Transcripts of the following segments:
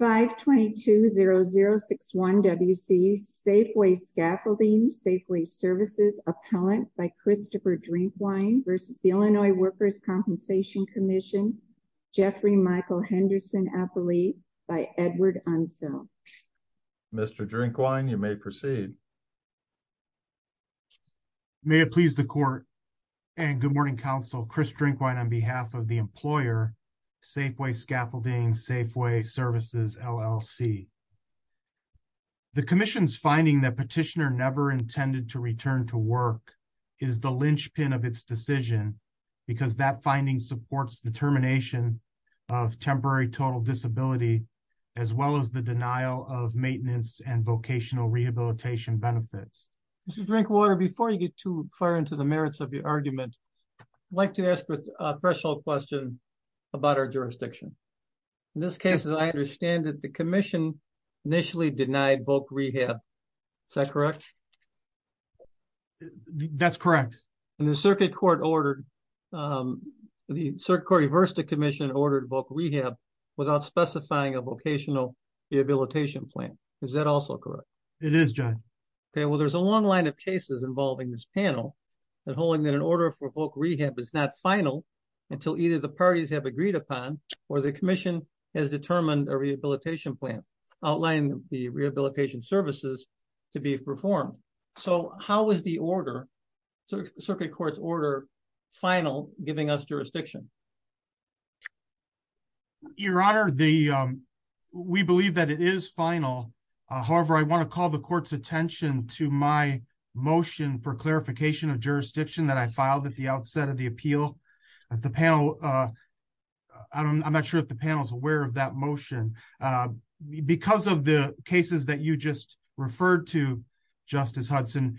5220061 WC Safeway Scaffolding Safeway Services Appellant by Christopher Drinkwine v. Illinois Workers' Compensation Comm'n Jeffrey Michael Henderson Appellee by Edward Unsell Mr. Drinkwine, you may proceed. May it please the court and good morning, counsel. Chris Drinkwine on behalf of the employer, Safeway Scaffolding Safeway Services, LLC. The commission's finding that Petitioner never intended to return to work is the linchpin of its decision because that finding supports the termination of temporary total disability, as well as the denial of maintenance and vocational rehabilitation benefits. Mr. Drinkwine, before you get too far into the merits of your argument, I'd like to ask a threshold question about our jurisdiction. In this case, as I understand it, the commission initially denied voc rehab. Is that correct? That's correct. And the circuit court reversed the commission and ordered voc rehab without specifying a vocational rehabilitation plan. Is that also correct? It is, John. Well, there's a long line of cases involving this panel, and holding that an order for voc rehab is not final until either the parties have agreed upon, or the commission has determined a rehabilitation plan, outlining the rehabilitation services to be performed. So how is the order, circuit court's order, final, giving us jurisdiction? Your Honor, we believe that it is final. However, I want to call the court's attention to my motion for clarification of jurisdiction that I filed at the outset of the appeal. If the panel, I'm not sure if the panel is aware of that motion. Because of the cases that you just referred to, Justice Hudson,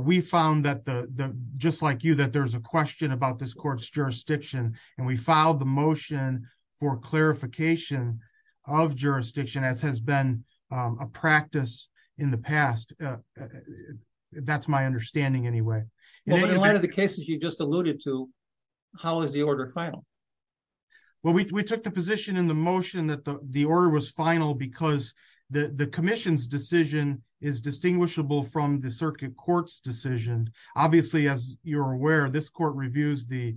we found that, just like you, that there's a question about this jurisdiction. And we filed the motion for clarification of jurisdiction, as has been a practice in the past. That's my understanding, anyway. Well, in light of the cases you just alluded to, how is the order final? Well, we took the position in the motion that the order was final because the commission's decision is distinguishable from the circuit court's decision. Obviously, as you're aware, this court reviews the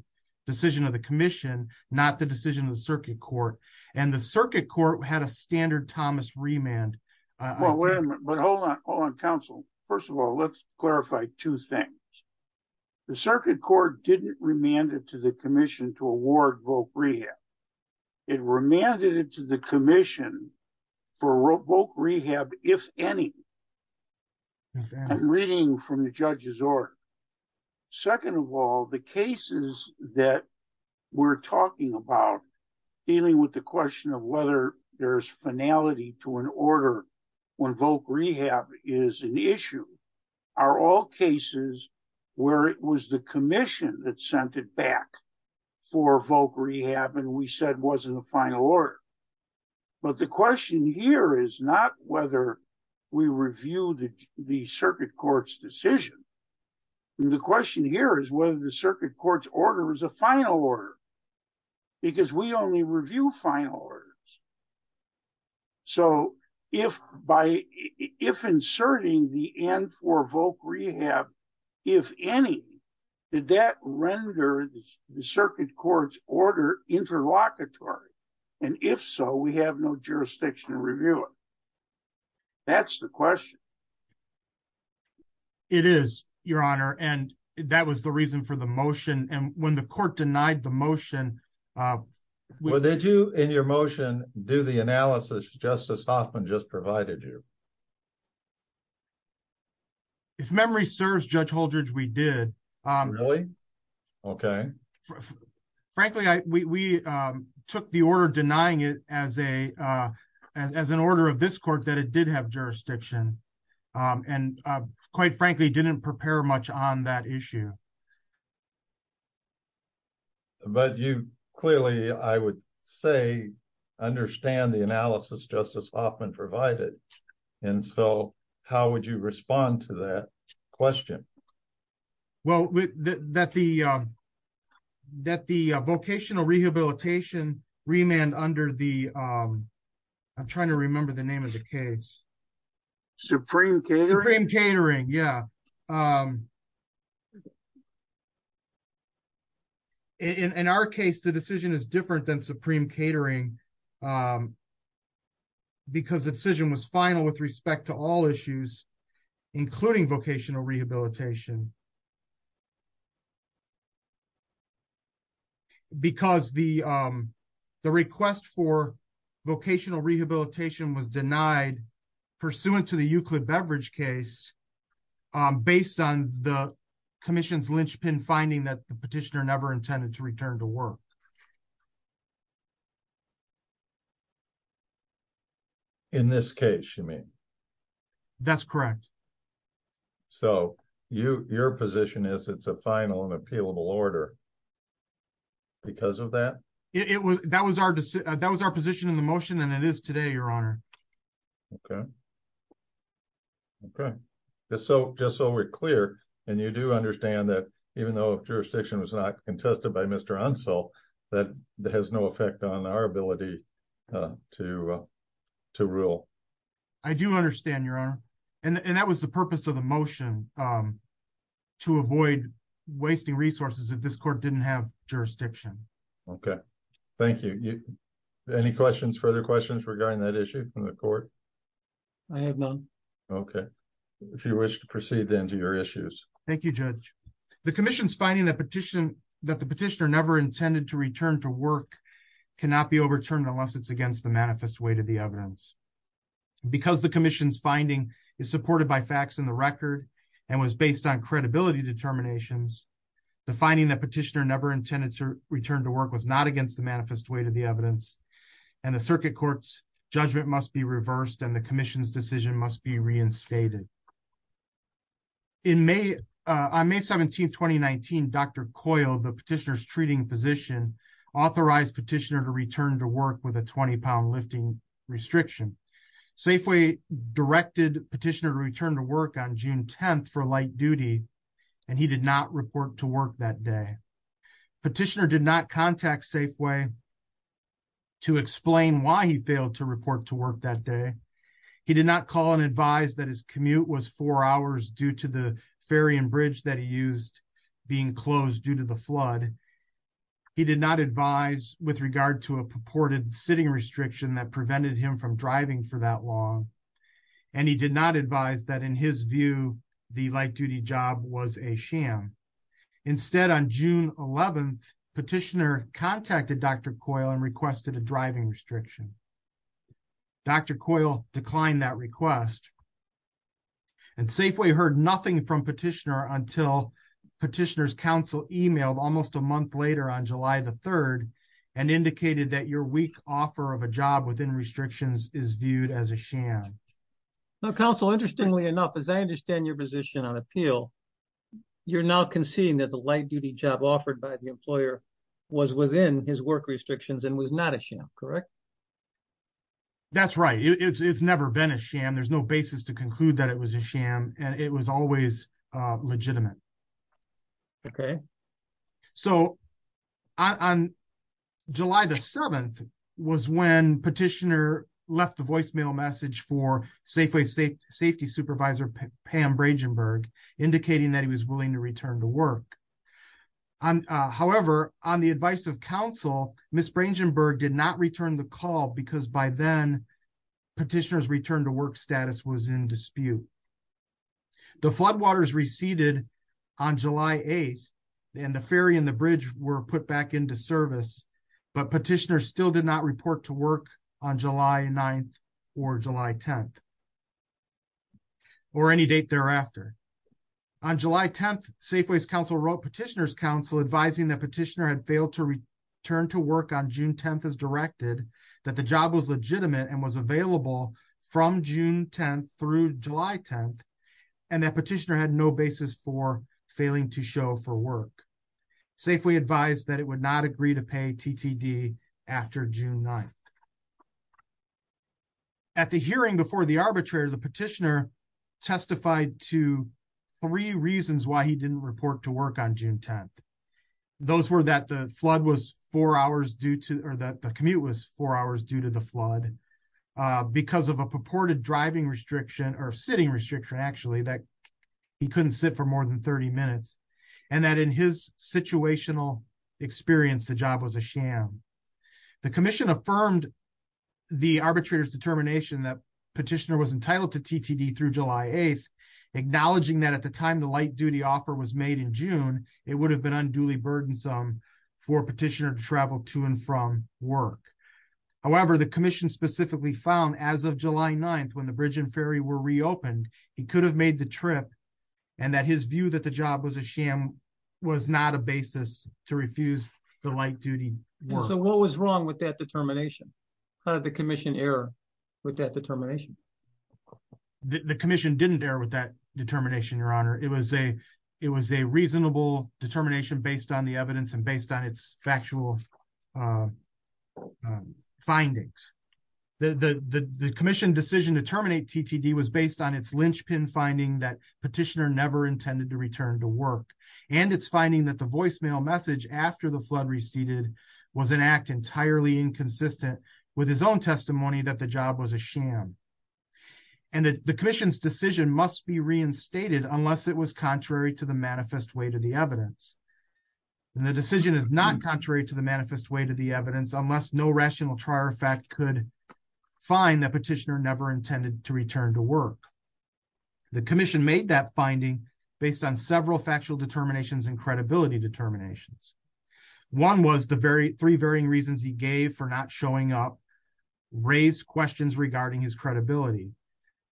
decision of the commission, not the decision of the circuit court. And the circuit court had a standard Thomas remand. Well, wait a minute. Hold on, counsel. First of all, let's clarify two things. The circuit court didn't remand it to the commission to award voc rehab. It remanded it to the commission for voc rehab, if any. I'm reading from the judge's order. Second of all, the cases that we're talking about, dealing with the question of whether there's finality to an order when voc rehab is an issue, are all cases where it was the commission that sent it back for voc rehab and we said wasn't a final order. But the question here is not whether we review the circuit court's decision. The question here is whether the circuit court's order is a final order, because we only review final orders. So if inserting the N for voc rehab, if any, did that render the circuit court's order interlocutory? And if so, we have no jurisdiction to review it. That's the question. It is, Your Honor. And that was the reason for the motion. And when the court denied the motion... Well, did you in your motion do the analysis Justice Hoffman just provided you? If memory serves, Judge Holdredge, we did. Really? Okay. Frankly, we took the order denying it as an order of this court that it did have jurisdiction. And quite frankly, didn't prepare much on that issue. But you clearly, I would say, understand the analysis Justice Hoffman provided. And so how would you respond to that question? Well, that the vocational rehabilitation remand under the... I'm trying to remember the name of the case. Supreme Catering? Supreme Catering, yeah. In our case, the decision is different than Supreme Catering because the decision was final with respect to all issues, including vocational rehabilitation. Because the request for vocational rehabilitation was denied pursuant to the Euclid Beverage case based on the commission's linchpin finding that the petitioner never intended to return to work. In this case, you mean? That's correct. So your position is it's a final and appealable order because of that? That was our position in the motion, and it is today, Your Honor. Okay. Okay. Just so we're clear, and you do understand that even though jurisdiction was contested by Mr. Unsell, that has no effect on our ability to rule. I do understand, Your Honor. And that was the purpose of the motion, to avoid wasting resources if this court didn't have jurisdiction. Okay. Thank you. Any questions, further questions regarding that issue from the court? I have none. Okay. If you wish to proceed then to your issues. Thank you, Judge. The commission's finding that the petitioner never intended to return to work cannot be overturned unless it's against the manifest way to the evidence. Because the commission's finding is supported by facts in the record and was based on credibility determinations, the finding that petitioner never intended to return to work was not against the manifest way to the evidence, and the circuit court's judgment must be reversed and the commission's must be reinstated. On May 17th, 2019, Dr. Coyle, the petitioner's treating physician, authorized petitioner to return to work with a 20-pound lifting restriction. Safeway directed petitioner to return to work on June 10th for light duty, and he did not report to work that day. Petitioner did not contact Safeway to explain why he failed to report to work that day. He did not call and advise that his commute was four hours due to the ferry and bridge that he used being closed due to the flood. He did not advise with regard to a purported sitting restriction that prevented him from driving for that long, and he did not advise that in his view, the light duty job was a sham. Instead, on June 11th, petitioner contacted Dr. Coyle and requested a driving restriction. Dr. Coyle declined that request, and Safeway heard nothing from petitioner until petitioner's counsel emailed almost a month later on July the 3rd, and indicated that your weak offer of a job within restrictions is viewed as a sham. Now, counsel, interestingly enough, as I understand your position on appeal, you're now conceding that the light duty job offered by the employer was within his work restrictions and was not a sham, correct? That's right. It's never been a sham. There's no basis to conclude that it was a sham, and it was always legitimate. Okay. So, on July the 7th was when petitioner left the voicemail message for Safeway Safety Supervisor Pam Bragenburg, indicating that he was willing to return to work. However, on the advice of counsel, Ms. Bragenburg did not return the call because by then, petitioner's return to work status was in dispute. The floodwaters receded on July 8th, and the ferry and the bridge were put back into service, but petitioner still did not report to work on July 9th or July 10th, or any date thereafter. On July 10th, Safeway's counsel wrote petitioner's counsel advising that petitioner had failed to return to work on June 10th as directed, that the job was legitimate and was available from June 10th through July 10th, and that petitioner had no basis for TTD after June 9th. At the hearing before the arbitrator, the petitioner testified to three reasons why he didn't report to work on June 10th. Those were that the flood was four hours due to, or that the commute was four hours due to the flood, because of a purported driving restriction, or sitting restriction actually, that he couldn't sit for more than 30 minutes, and that in his situational experience, the job was a sham. The commission affirmed the arbitrator's determination that petitioner was entitled to TTD through July 8th, acknowledging that at the time the light duty offer was made in June, it would have been unduly burdensome for petitioner to travel to and from work. However, the commission specifically found as of July 9th, when the bridge and ferry were reopened, he could have made the trip, and that his view that the job was a sham was not a basis to refuse the light duty work. So what was wrong with that determination? How did the commission err with that determination? The commission didn't err with that determination, Your Honor. It was a reasonable determination based on the evidence and based on its factual findings. The commission decision to terminate TTD was based on its linchpin finding that petitioner never intended to return to work, and its finding that the voicemail message after the flood receded was an act entirely inconsistent with his own testimony that the job was a sham. And the commission's decision must be reinstated unless it was contrary to the manifest way to the evidence. And the decision is not contrary to the manifest way to the evidence unless no rational trier fact could find that he never intended to return to work. The commission made that finding based on several factual determinations and credibility determinations. One was the three varying reasons he gave for not showing up raised questions regarding his credibility.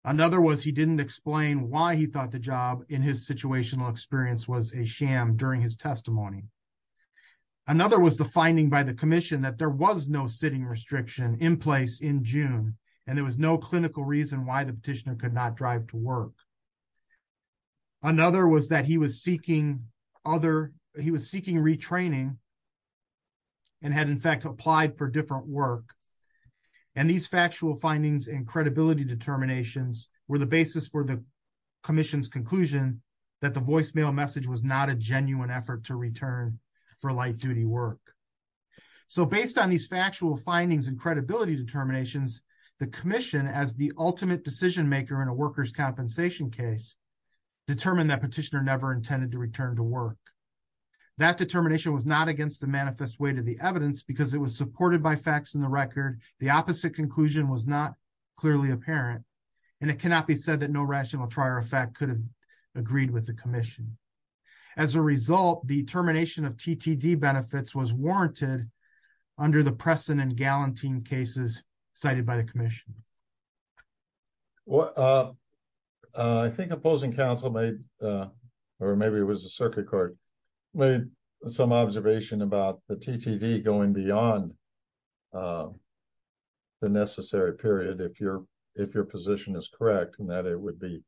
Another was he didn't explain why he thought the job in his situational experience was a sham during his testimony. Another was the finding by the commission that there was no sitting restriction in place in June, and there was no clinical reason why the petitioner could not drive to work. Another was that he was seeking retraining and had in fact applied for different work. And these factual findings and credibility determinations were the basis for the commission's conclusion that the voicemail message was not a genuine effort to return for light duty work. So based on these factual findings and credibility determinations, the commission as the ultimate decision maker in a worker's compensation case, determined that petitioner never intended to return to work. That determination was not against the manifest way to the evidence because it was supported by facts in the record. The opposite conclusion was not clearly apparent. And it cannot be said that no rational trier effect could have the commission. As a result, the termination of TTD benefits was warranted under the precedent gallantine cases cited by the commission. Well, I think opposing counsel made, or maybe it was the circuit court, made some observation about the TTD going beyond the necessary period if you're, if your position is correct, and that it would be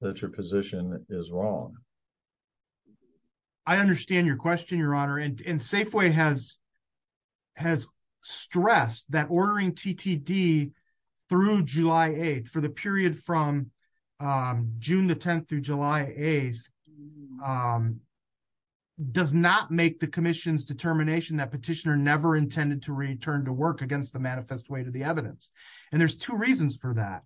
that your position is wrong. I understand your question, Your Honor. And Safeway has stressed that ordering TTD through July 8th for the period from June the 10th through July 8th does not make the commission's determination that petitioner never intended to return to work against the manifest way to the evidence. And there's two reasons for that.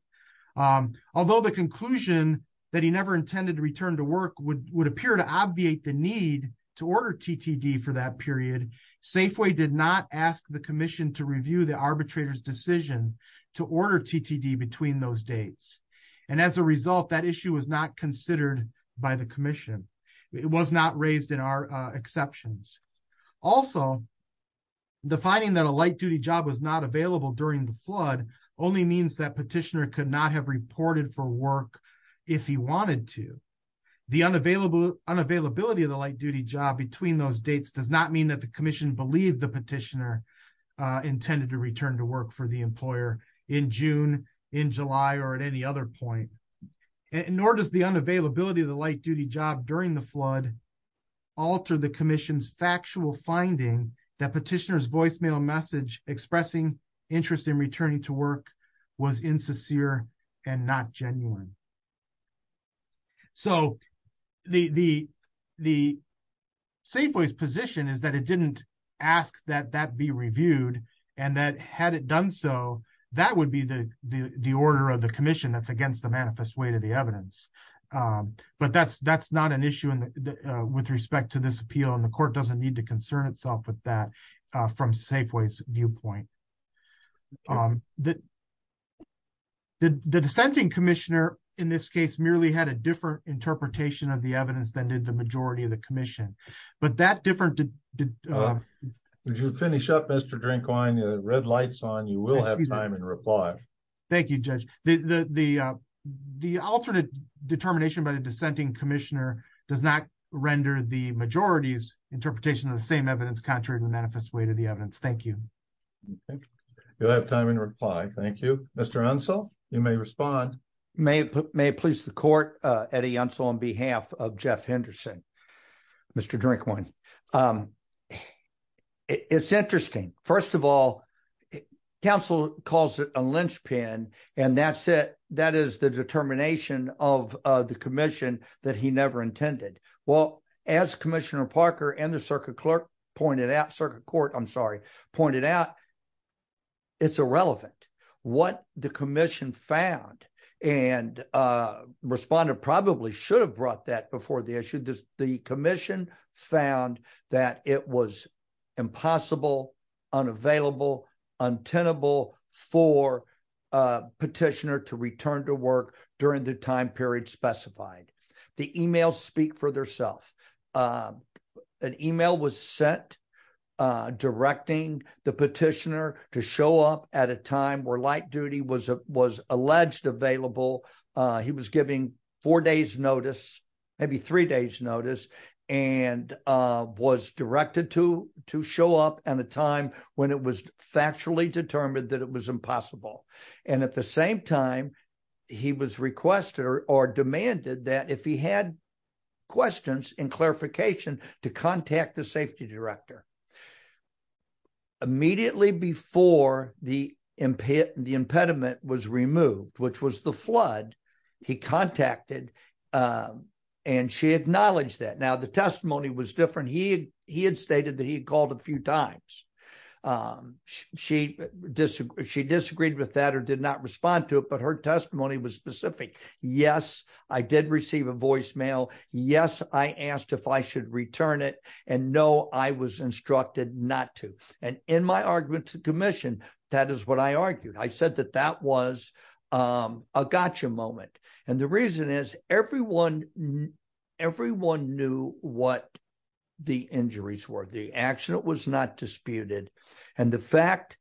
Although the conclusion that he never intended to return to work would appear to obviate the need to order TTD for that period, Safeway did not ask the commission to review the arbitrator's decision to order TTD between those dates. And as a result, that issue was not considered by the commission. It was not raised in our exceptions. Also, the finding that a light duty job was not available during the flood only means that petitioner could not have reported for work if he wanted to. The unavailability of the light duty job between those dates does not mean that the commission believed the petitioner intended to return to work for the employer in June, in July, or at any other point. Nor does the unavailability of the light duty job during the flood alter the commission's factual finding that petitioner's voicemail message expressing interest in returning to work was insincere and not genuine. So the Safeway's position is that it didn't ask that that be reviewed, and that had it done so, that would be the order of the commission that's against the manifest way to the evidence. But that's not an issue with respect to this appeal, and the court doesn't need to concern itself with that from Safeway's viewpoint. The dissenting commissioner, in this case, merely had a different interpretation of the evidence than did the majority of the commission. But that different... Would you finish up, Mr. Drinkwine? The red light's on. You will have time in reply. Thank you, Judge. The alternate determination by the dissenting commissioner does not render the majority's interpretation of the same evidence contrary to the manifest way to the evidence. Thank you. You'll have time in reply. Thank you. Mr. Unsel, you may respond. May it please the court, Eddie Unsel, on behalf of Jeff Henderson, Mr. Drinkwine. It's interesting. First of all, counsel calls it a linchpin, and that is the determination of the commission that he never intended. Well, as Commissioner Parker and the circuit clerk pointed out, circuit court, I'm sorry, pointed out, it's irrelevant. What the commission found, and Respondent probably should have brought that before the issue, the commission found that it was impossible, unavailable, untenable for a petitioner to return to work during the time period specified. The emails speak for themselves. An email was sent directing the petitioner to show up at a time where light duty was alleged available. He was giving four days notice, maybe three days notice, and was directed to show up at a time when it was factually determined that it was impossible. At the same time, he was requested or demanded that if he had questions and clarification to contact the safety director. Immediately before the impediment was removed, which was the flood, he contacted and she acknowledged that. Now, the testimony was different. He had stated that he had called a few times. She disagreed with that or did not respond to it, but her testimony was specific. Yes, I did receive a voicemail. Yes, I asked if I should return it. No, I was instructed not to. In my argument to the commission, that is what I argued. I said that that was a gotcha moment. The reason is everyone knew what the injuries were. The accident was not disputed. The fact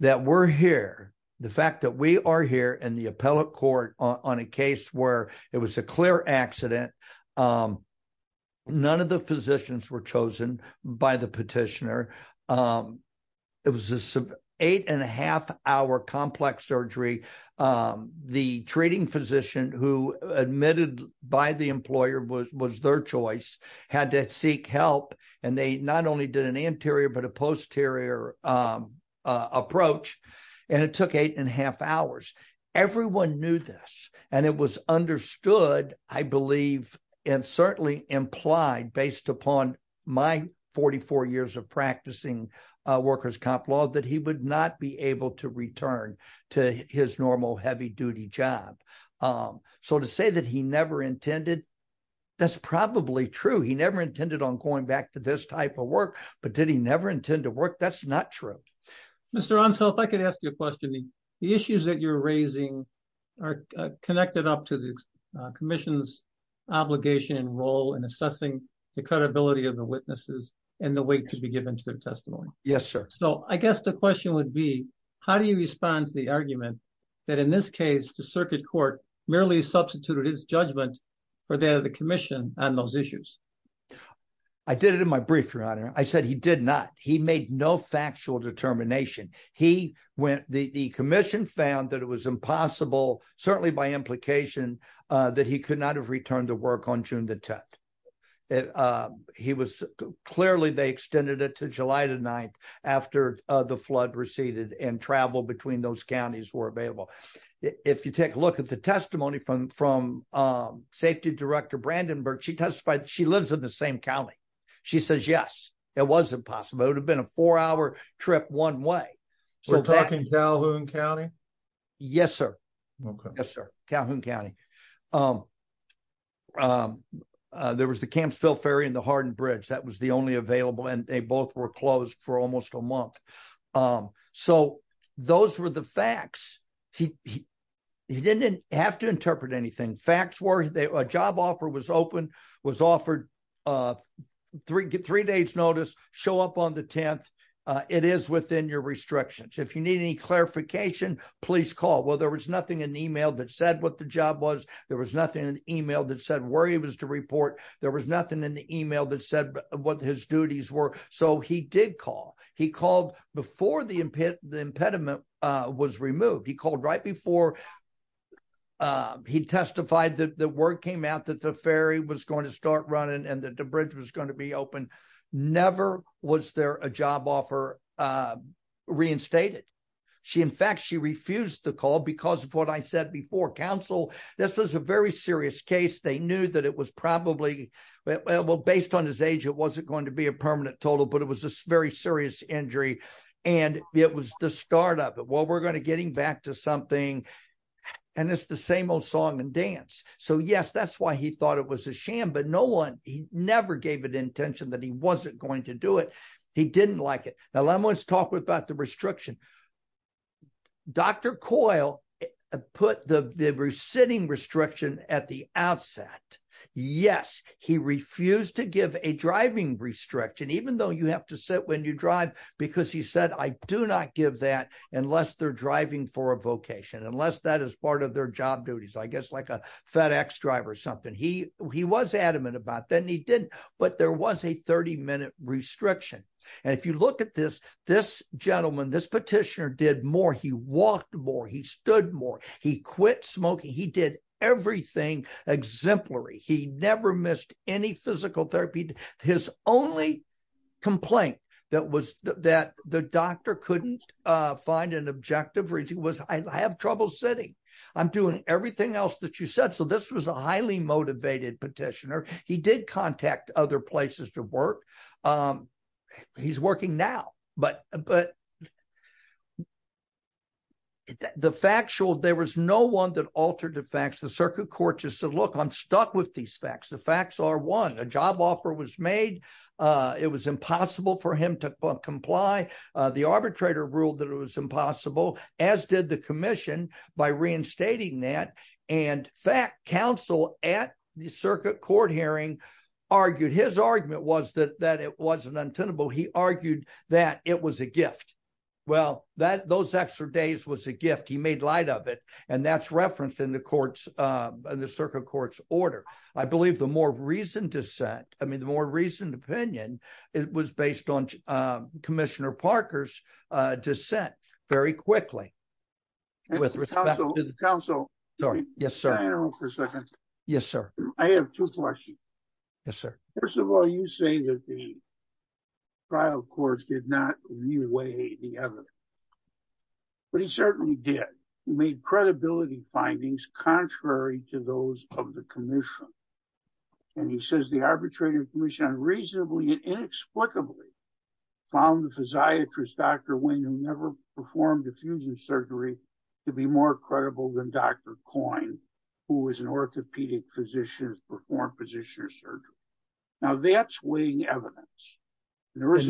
that we're here, the fact that we are here in the appellate court on a case where it was a clear accident, none of the physicians were chosen by the petitioner. It was an eight and a half hour complex surgery. The treating physician who admitted by the employer was their choice had to seek help. They not only did an anterior but a posterior approach. It took eight and a half hours. Everyone knew this. It was understood, I believe, and certainly implied based upon my 44 years of practicing workers' comp law that he would not be able to return to his normal heavy duty job. To say that he never intended, that's probably true. He never intended on going back to this type of work, but did he never intend to work? That's not true. Mr. Ronsel, if I could ask you a question. The issues that you're raising are connected up to commission's obligation and role in assessing the credibility of the witnesses and the weight to be given to their testimony. Yes, sir. I guess the question would be, how do you respond to the argument that in this case the circuit court merely substituted his judgment for that of the commission on those issues? I did it in my brief, your honor. I said he did not. He made no factual determination. The commission found that it was impossible, certainly by implication, that he could not have returned to work on June the 10th. Clearly, they extended it to July the 9th after the flood receded and travel between those counties were available. If you take a look at the testimony from safety director Brandenburg, she testified that she lives in the same county. She says yes, it was impossible. It would have been a four-hour trip one way. We're talking Calhoun County? Yes, sir. Okay. Yes, sir. Calhoun County. There was the Campsville Ferry and the Hardin Bridge. That was the only available and they both were closed for almost a month. So, those were the facts. He didn't have to interpret anything. Facts were, a job offer was offered. Three days notice, show up on the 10th. It is within your restrictions. If you need any clarification, please call. Well, there was nothing in the email that said what the job was. There was nothing in the email that said where he was to report. There was nothing in the email that said what his duties were. So, he did call. He called before the impediment was removed. He testified that the word came out that the ferry was going to start running and that the bridge was going to be open. Never was there a job offer reinstated. In fact, she refused to call because of what I said before. Counsel, this was a very serious case. They knew that it was probably, well, based on his age, it wasn't going to be a permanent total, but it was a very serious injury and it was the start of it. Well, we're going to get him back to something and it's the same old song and dance. So, yes, that's why he thought it was a sham, but no one, he never gave it intention that he wasn't going to do it. He didn't like it. Now, let's talk about the restriction. Dr. Coyle put the resitting restriction at the outset. Yes, he refused to give a driving restriction, even though you have to sit when you drive, because he said, I do not give that unless they're driving for a vocation, unless that is part of their job duties. I guess like a FedEx driver or something. He was adamant about that and he didn't, but there was a 30-minute restriction. And if you look at this, this gentleman, this petitioner did more. He walked more. He stood more. He quit smoking. He did everything exemplary. He never couldn't find an objective. I have trouble sitting. I'm doing everything else that you said. So, this was a highly motivated petitioner. He did contact other places to work. He's working now, but the fact showed there was no one that altered the facts. The circuit court just said, look, I'm stuck with these facts. The facts are one, a job offer was made. It was impossible for him to comply. The arbitrator ruled that it was impossible, as did the commission by reinstating that. And fact, counsel at the circuit court hearing argued, his argument was that it wasn't untenable. He argued that it was a gift. Well, those extra days was a gift. He made light of it. And that's referenced in the circuit court's order. I believe the more reasoned dissent, I mean, the more reasoned opinion, it was based on commissioner Parker's dissent very quickly. With respect to the counsel. Sorry. Yes, sir. I have two questions. Yes, sir. First of all, you say that the trial courts did not reweigh the evidence, but he certainly did. He made an unreasonable and inexplicably found the physiatrist, Dr. Wing, who never performed diffusion surgery to be more credible than Dr. Coyne, who was an orthopedic physician who performed positional surgery. Now that's weighing evidence. Yes,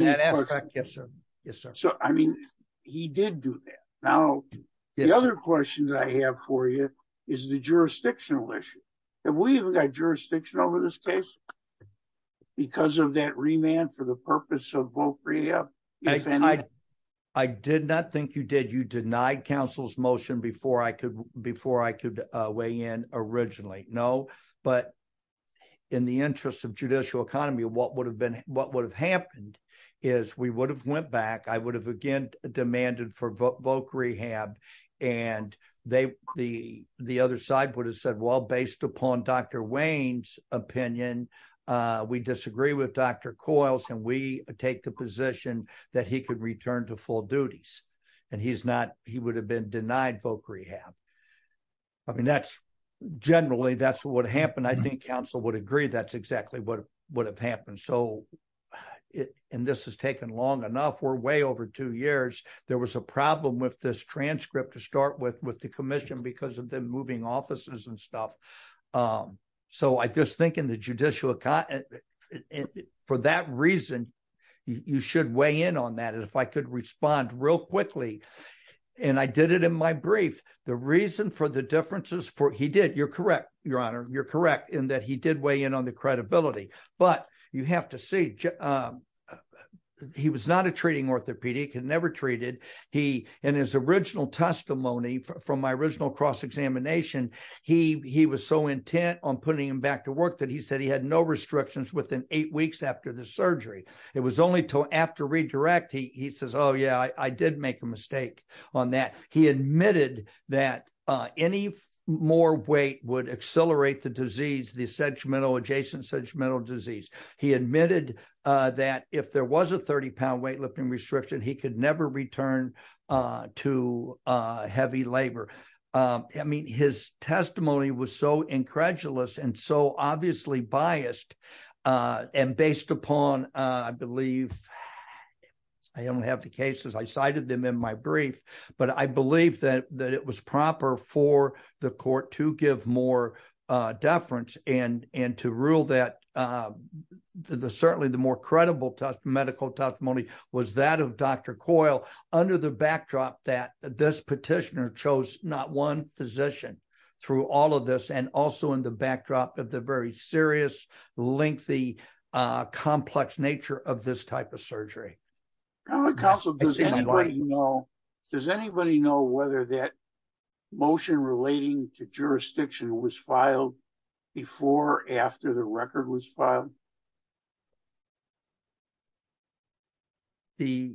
sir. I mean, he did do that. Now, the other question that I have for you is the jurisdictional issue. Have we even had jurisdiction over this case because of that remand for the purpose of Voc Rehab? I did not think you did. You denied counsel's motion before I could weigh in originally. No, but in the interest of judicial economy, what would have happened is we would have went back, I would have again demanded for Voc Rehab, and the other side would have said, well, in Wayne's opinion, we disagree with Dr. Coyne and we take the position that he could return to full duties. He would have been denied Voc Rehab. I mean, generally, that's what would happen. I think counsel would agree that's exactly what would have happened. This has taken long enough. We're way over two years. There was a problem with this transcript to start with the because of the moving offices and stuff. So I just think in the judicial account, for that reason, you should weigh in on that. And if I could respond real quickly, and I did it in my brief, the reason for the differences for he did, you're correct, Your Honor, you're correct in that he did weigh in on the credibility. But you have to see he was not a treating orthopedic and never treated he and his original testimony from my original cross-examination. He was so intent on putting him back to work that he said he had no restrictions within eight weeks after the surgery. It was only till after redirect, he says, oh, yeah, I did make a mistake on that. He admitted that any more weight would accelerate the disease, the sedgmental adjacent sedgmental disease. He admitted that if there was a 30-pound weightlifting restriction, he could never return to heavy labor. I mean, his testimony was so incredulous and so obviously biased and based upon, I believe, I don't have the cases, I cited them in my brief, but I believe that it was proper for the court to more deference and to rule that certainly the more credible medical testimony was that of Dr. Coyle under the backdrop that this petitioner chose not one physician through all of this and also in the backdrop of the very serious, lengthy, complex nature of this type of surgery. Counsel, does anybody know whether that motion relating to jurisdiction was filed before or after the record was filed? Does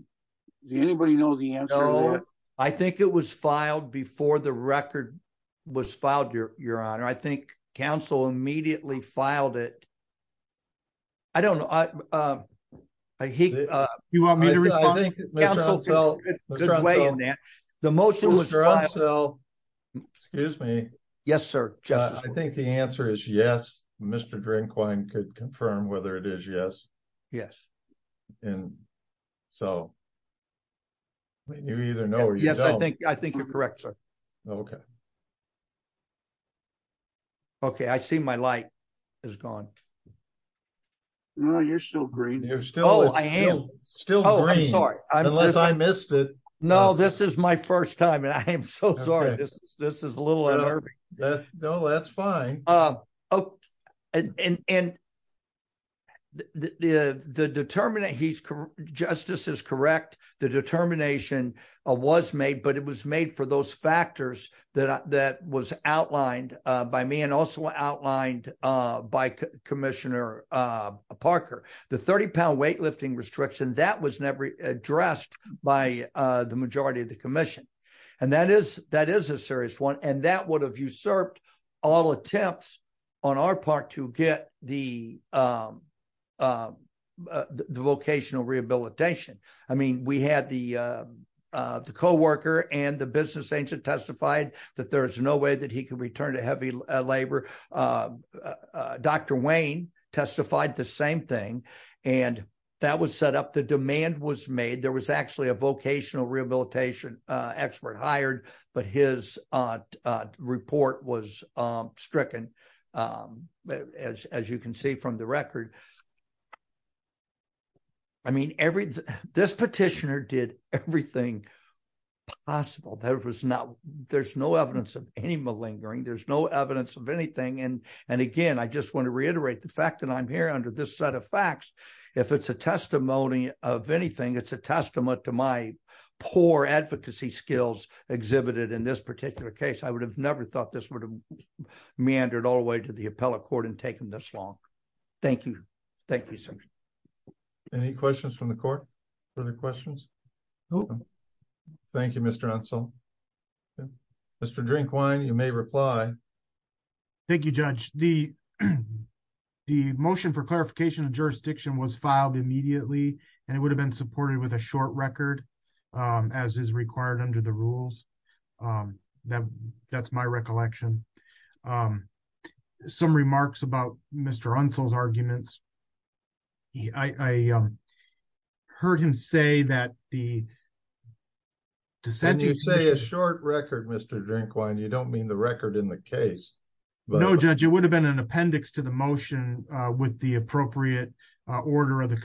anybody know the answer to that? I think it was filed before the record was filed, Your Honor. I think counsel immediately filed it. I don't know. You want me to respond? I think counsel took a good way in that. The motion was filed- Excuse me. Yes, sir. I think the answer is yes. Mr. Drinkwine could confirm whether it is yes. Yes. And so you either know or you don't. I think you're correct, sir. Okay. Okay, I see my light is gone. No, you're still green. You're still- Oh, I am. Still green. Oh, I'm sorry. Unless I missed it. No, this is my first time and I am so sorry. This is a little unnerving. No, that's fine. And the determinant, justice is correct. The determination was made, but it was made for those factors that was outlined by me and also outlined by Commissioner Parker. The 30-pound weightlifting restriction, that was never addressed by the majority of the commission. And that is a serious one, and that would have usurped all attempts on our part to get the vocational rehabilitation. I mean, we had the co-worker and the business agent testified that there is no way that he could return to heavy labor. Dr. Wayne testified the same thing, and that was set up. The demand was made. There was actually a vocational rehabilitation expert hired, but his report was stricken, as you can see from the record. I mean, this petitioner did everything possible. There's no evidence of any malingering. There's no evidence of anything. And again, I just want to reiterate the fact that I'm here under this set of facts. If it's a testimony of anything, it's a testament to my poor advocacy skills exhibited in this particular case. I would have never thought this would have meandered all the way to the appellate court and taken this long. Thank you. Thank you, sir. Any questions from the court? Further questions? No. Thank you, Mr. Unsell. Mr. Drinkwine, you may reply. Thank you, Judge. The motion for clarification of jurisdiction was filed immediately, and it would have been supported with a short record, as is required under the rules. That's my recollection. Some remarks about Mr. Unsell's arguments. I heard him say that the dissenters... When you say a short record, Mr. Drinkwine, you don't mean the record in the case. No, Judge. It would have been an appendix to the motion with the appropriate order of the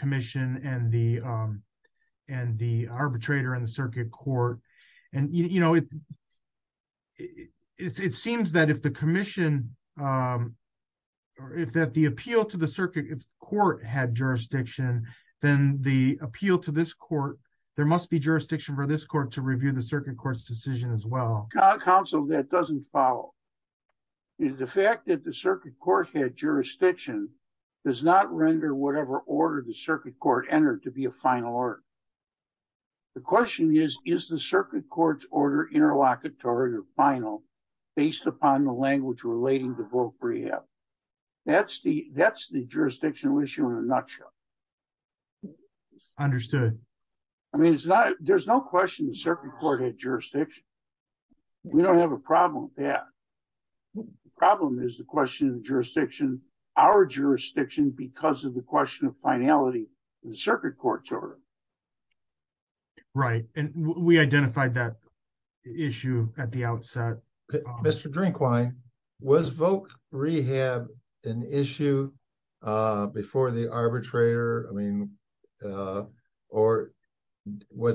circuit court. It seems that if the appeal to the circuit court had jurisdiction, then the appeal to this court, there must be jurisdiction for this court to review the circuit court's decision as well. Counsel, that doesn't follow. The fact that the circuit court had jurisdiction does not render whatever order the circuit court entered to be a final order. The question is, is the circuit court's order interlocutory or final based upon the language relating to vote rehab? That's the jurisdictional issue in a nutshell. Understood. There's no question the circuit court had jurisdiction. We don't have a problem with that. The problem is the question of jurisdiction, our jurisdiction, because of the question of arbitration. We identified that issue at the outset. Mr. Drinkwine, was vote rehab an issue before the arbitrator? Was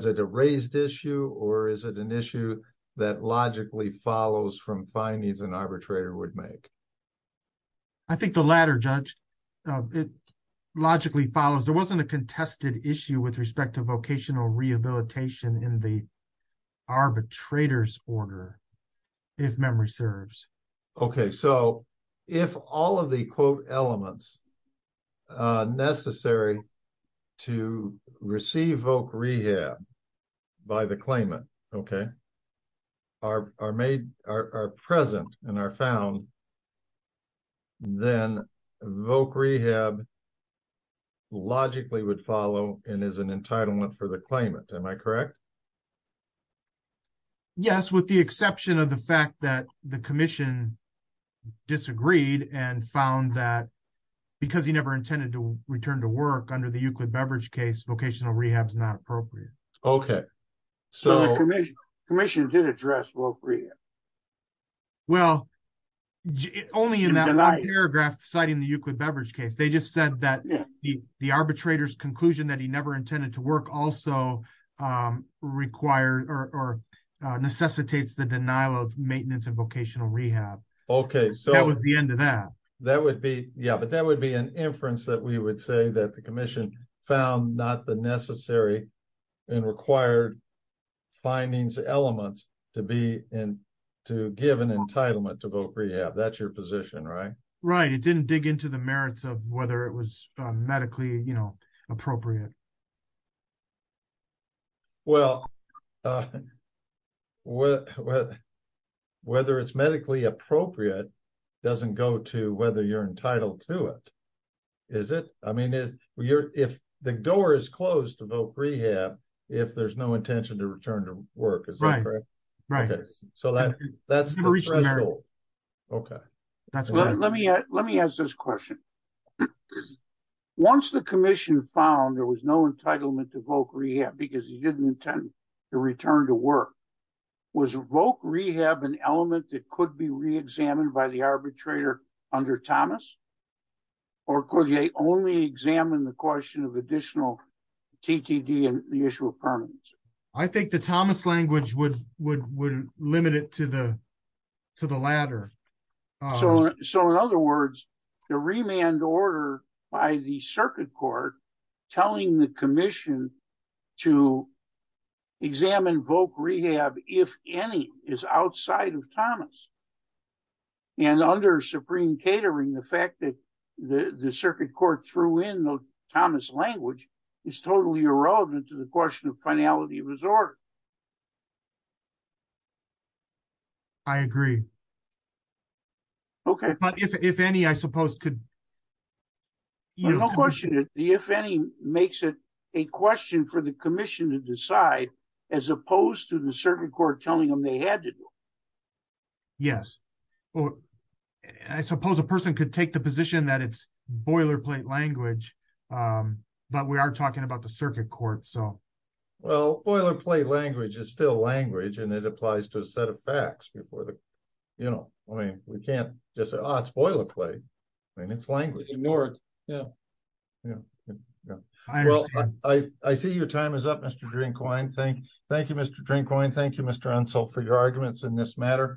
it a raised issue or is it an issue that logically follows from findings an arbitrator would make? I think the latter, Judge. It logically follows. There wasn't a contested issue with respect to vocational rehabilitation in the arbitrator's order, if memory serves. If all of the quote elements necessary to receive vote rehab by the claimant are present and are found, then vote rehab logically would follow and is an entitlement for the claimant. Am I correct? Yes, with the exception of the fact that the commission disagreed and found that because he never intended to return to work under the Euclid case, vocational rehab is not appropriate. The commission did address vote rehab. Well, only in that paragraph citing the Euclid beverage case. They just said that the arbitrator's conclusion that he never intended to work also necessitates the denial of maintenance and vocational rehab. That was the end of that. That would be an inference that we would say that the commission found not the necessary and required findings elements to give an entitlement to vote rehab. That's your position, right? Right. It didn't dig into the merits of whether it was medically appropriate. Well, whether it's medically appropriate doesn't go to whether you're entitled to it. Is it? I mean, if the door is closed to vote rehab, if there's no intention to return to work, is that correct? Right. So that's the threshold. Okay. Let me ask this question. Once the commission found there was no entitlement to vote rehab because he didn't intend to return to work, was vote rehab an element that could be reexamined by the arbitrator under Thomas? Or could he only examine the question of additional TTD and the issue of permanency? I think the Thomas language would limit it to the latter. So in other words, the remand order by the circuit court telling the commission to and under supreme catering, the fact that the circuit court threw in the Thomas language is totally irrelevant to the question of finality of resort. I agree. Okay. But if any, I suppose could. No question. If any makes it a question for the commission to decide, as opposed to the circuit court telling them they had to do. Yes. I suppose a person could take the position that it's boilerplate language, but we are talking about the circuit court, so. Well, boilerplate language is still language, and it applies to a set of facts before the, you know, I mean, we can't just say, oh, it's boilerplate. I mean, it's language. It's ignored. Yeah. Well, I see your time is up, Mr. Drinkwine. Thank you, Mr. Drinkwine. Thank you, for your arguments in this matter.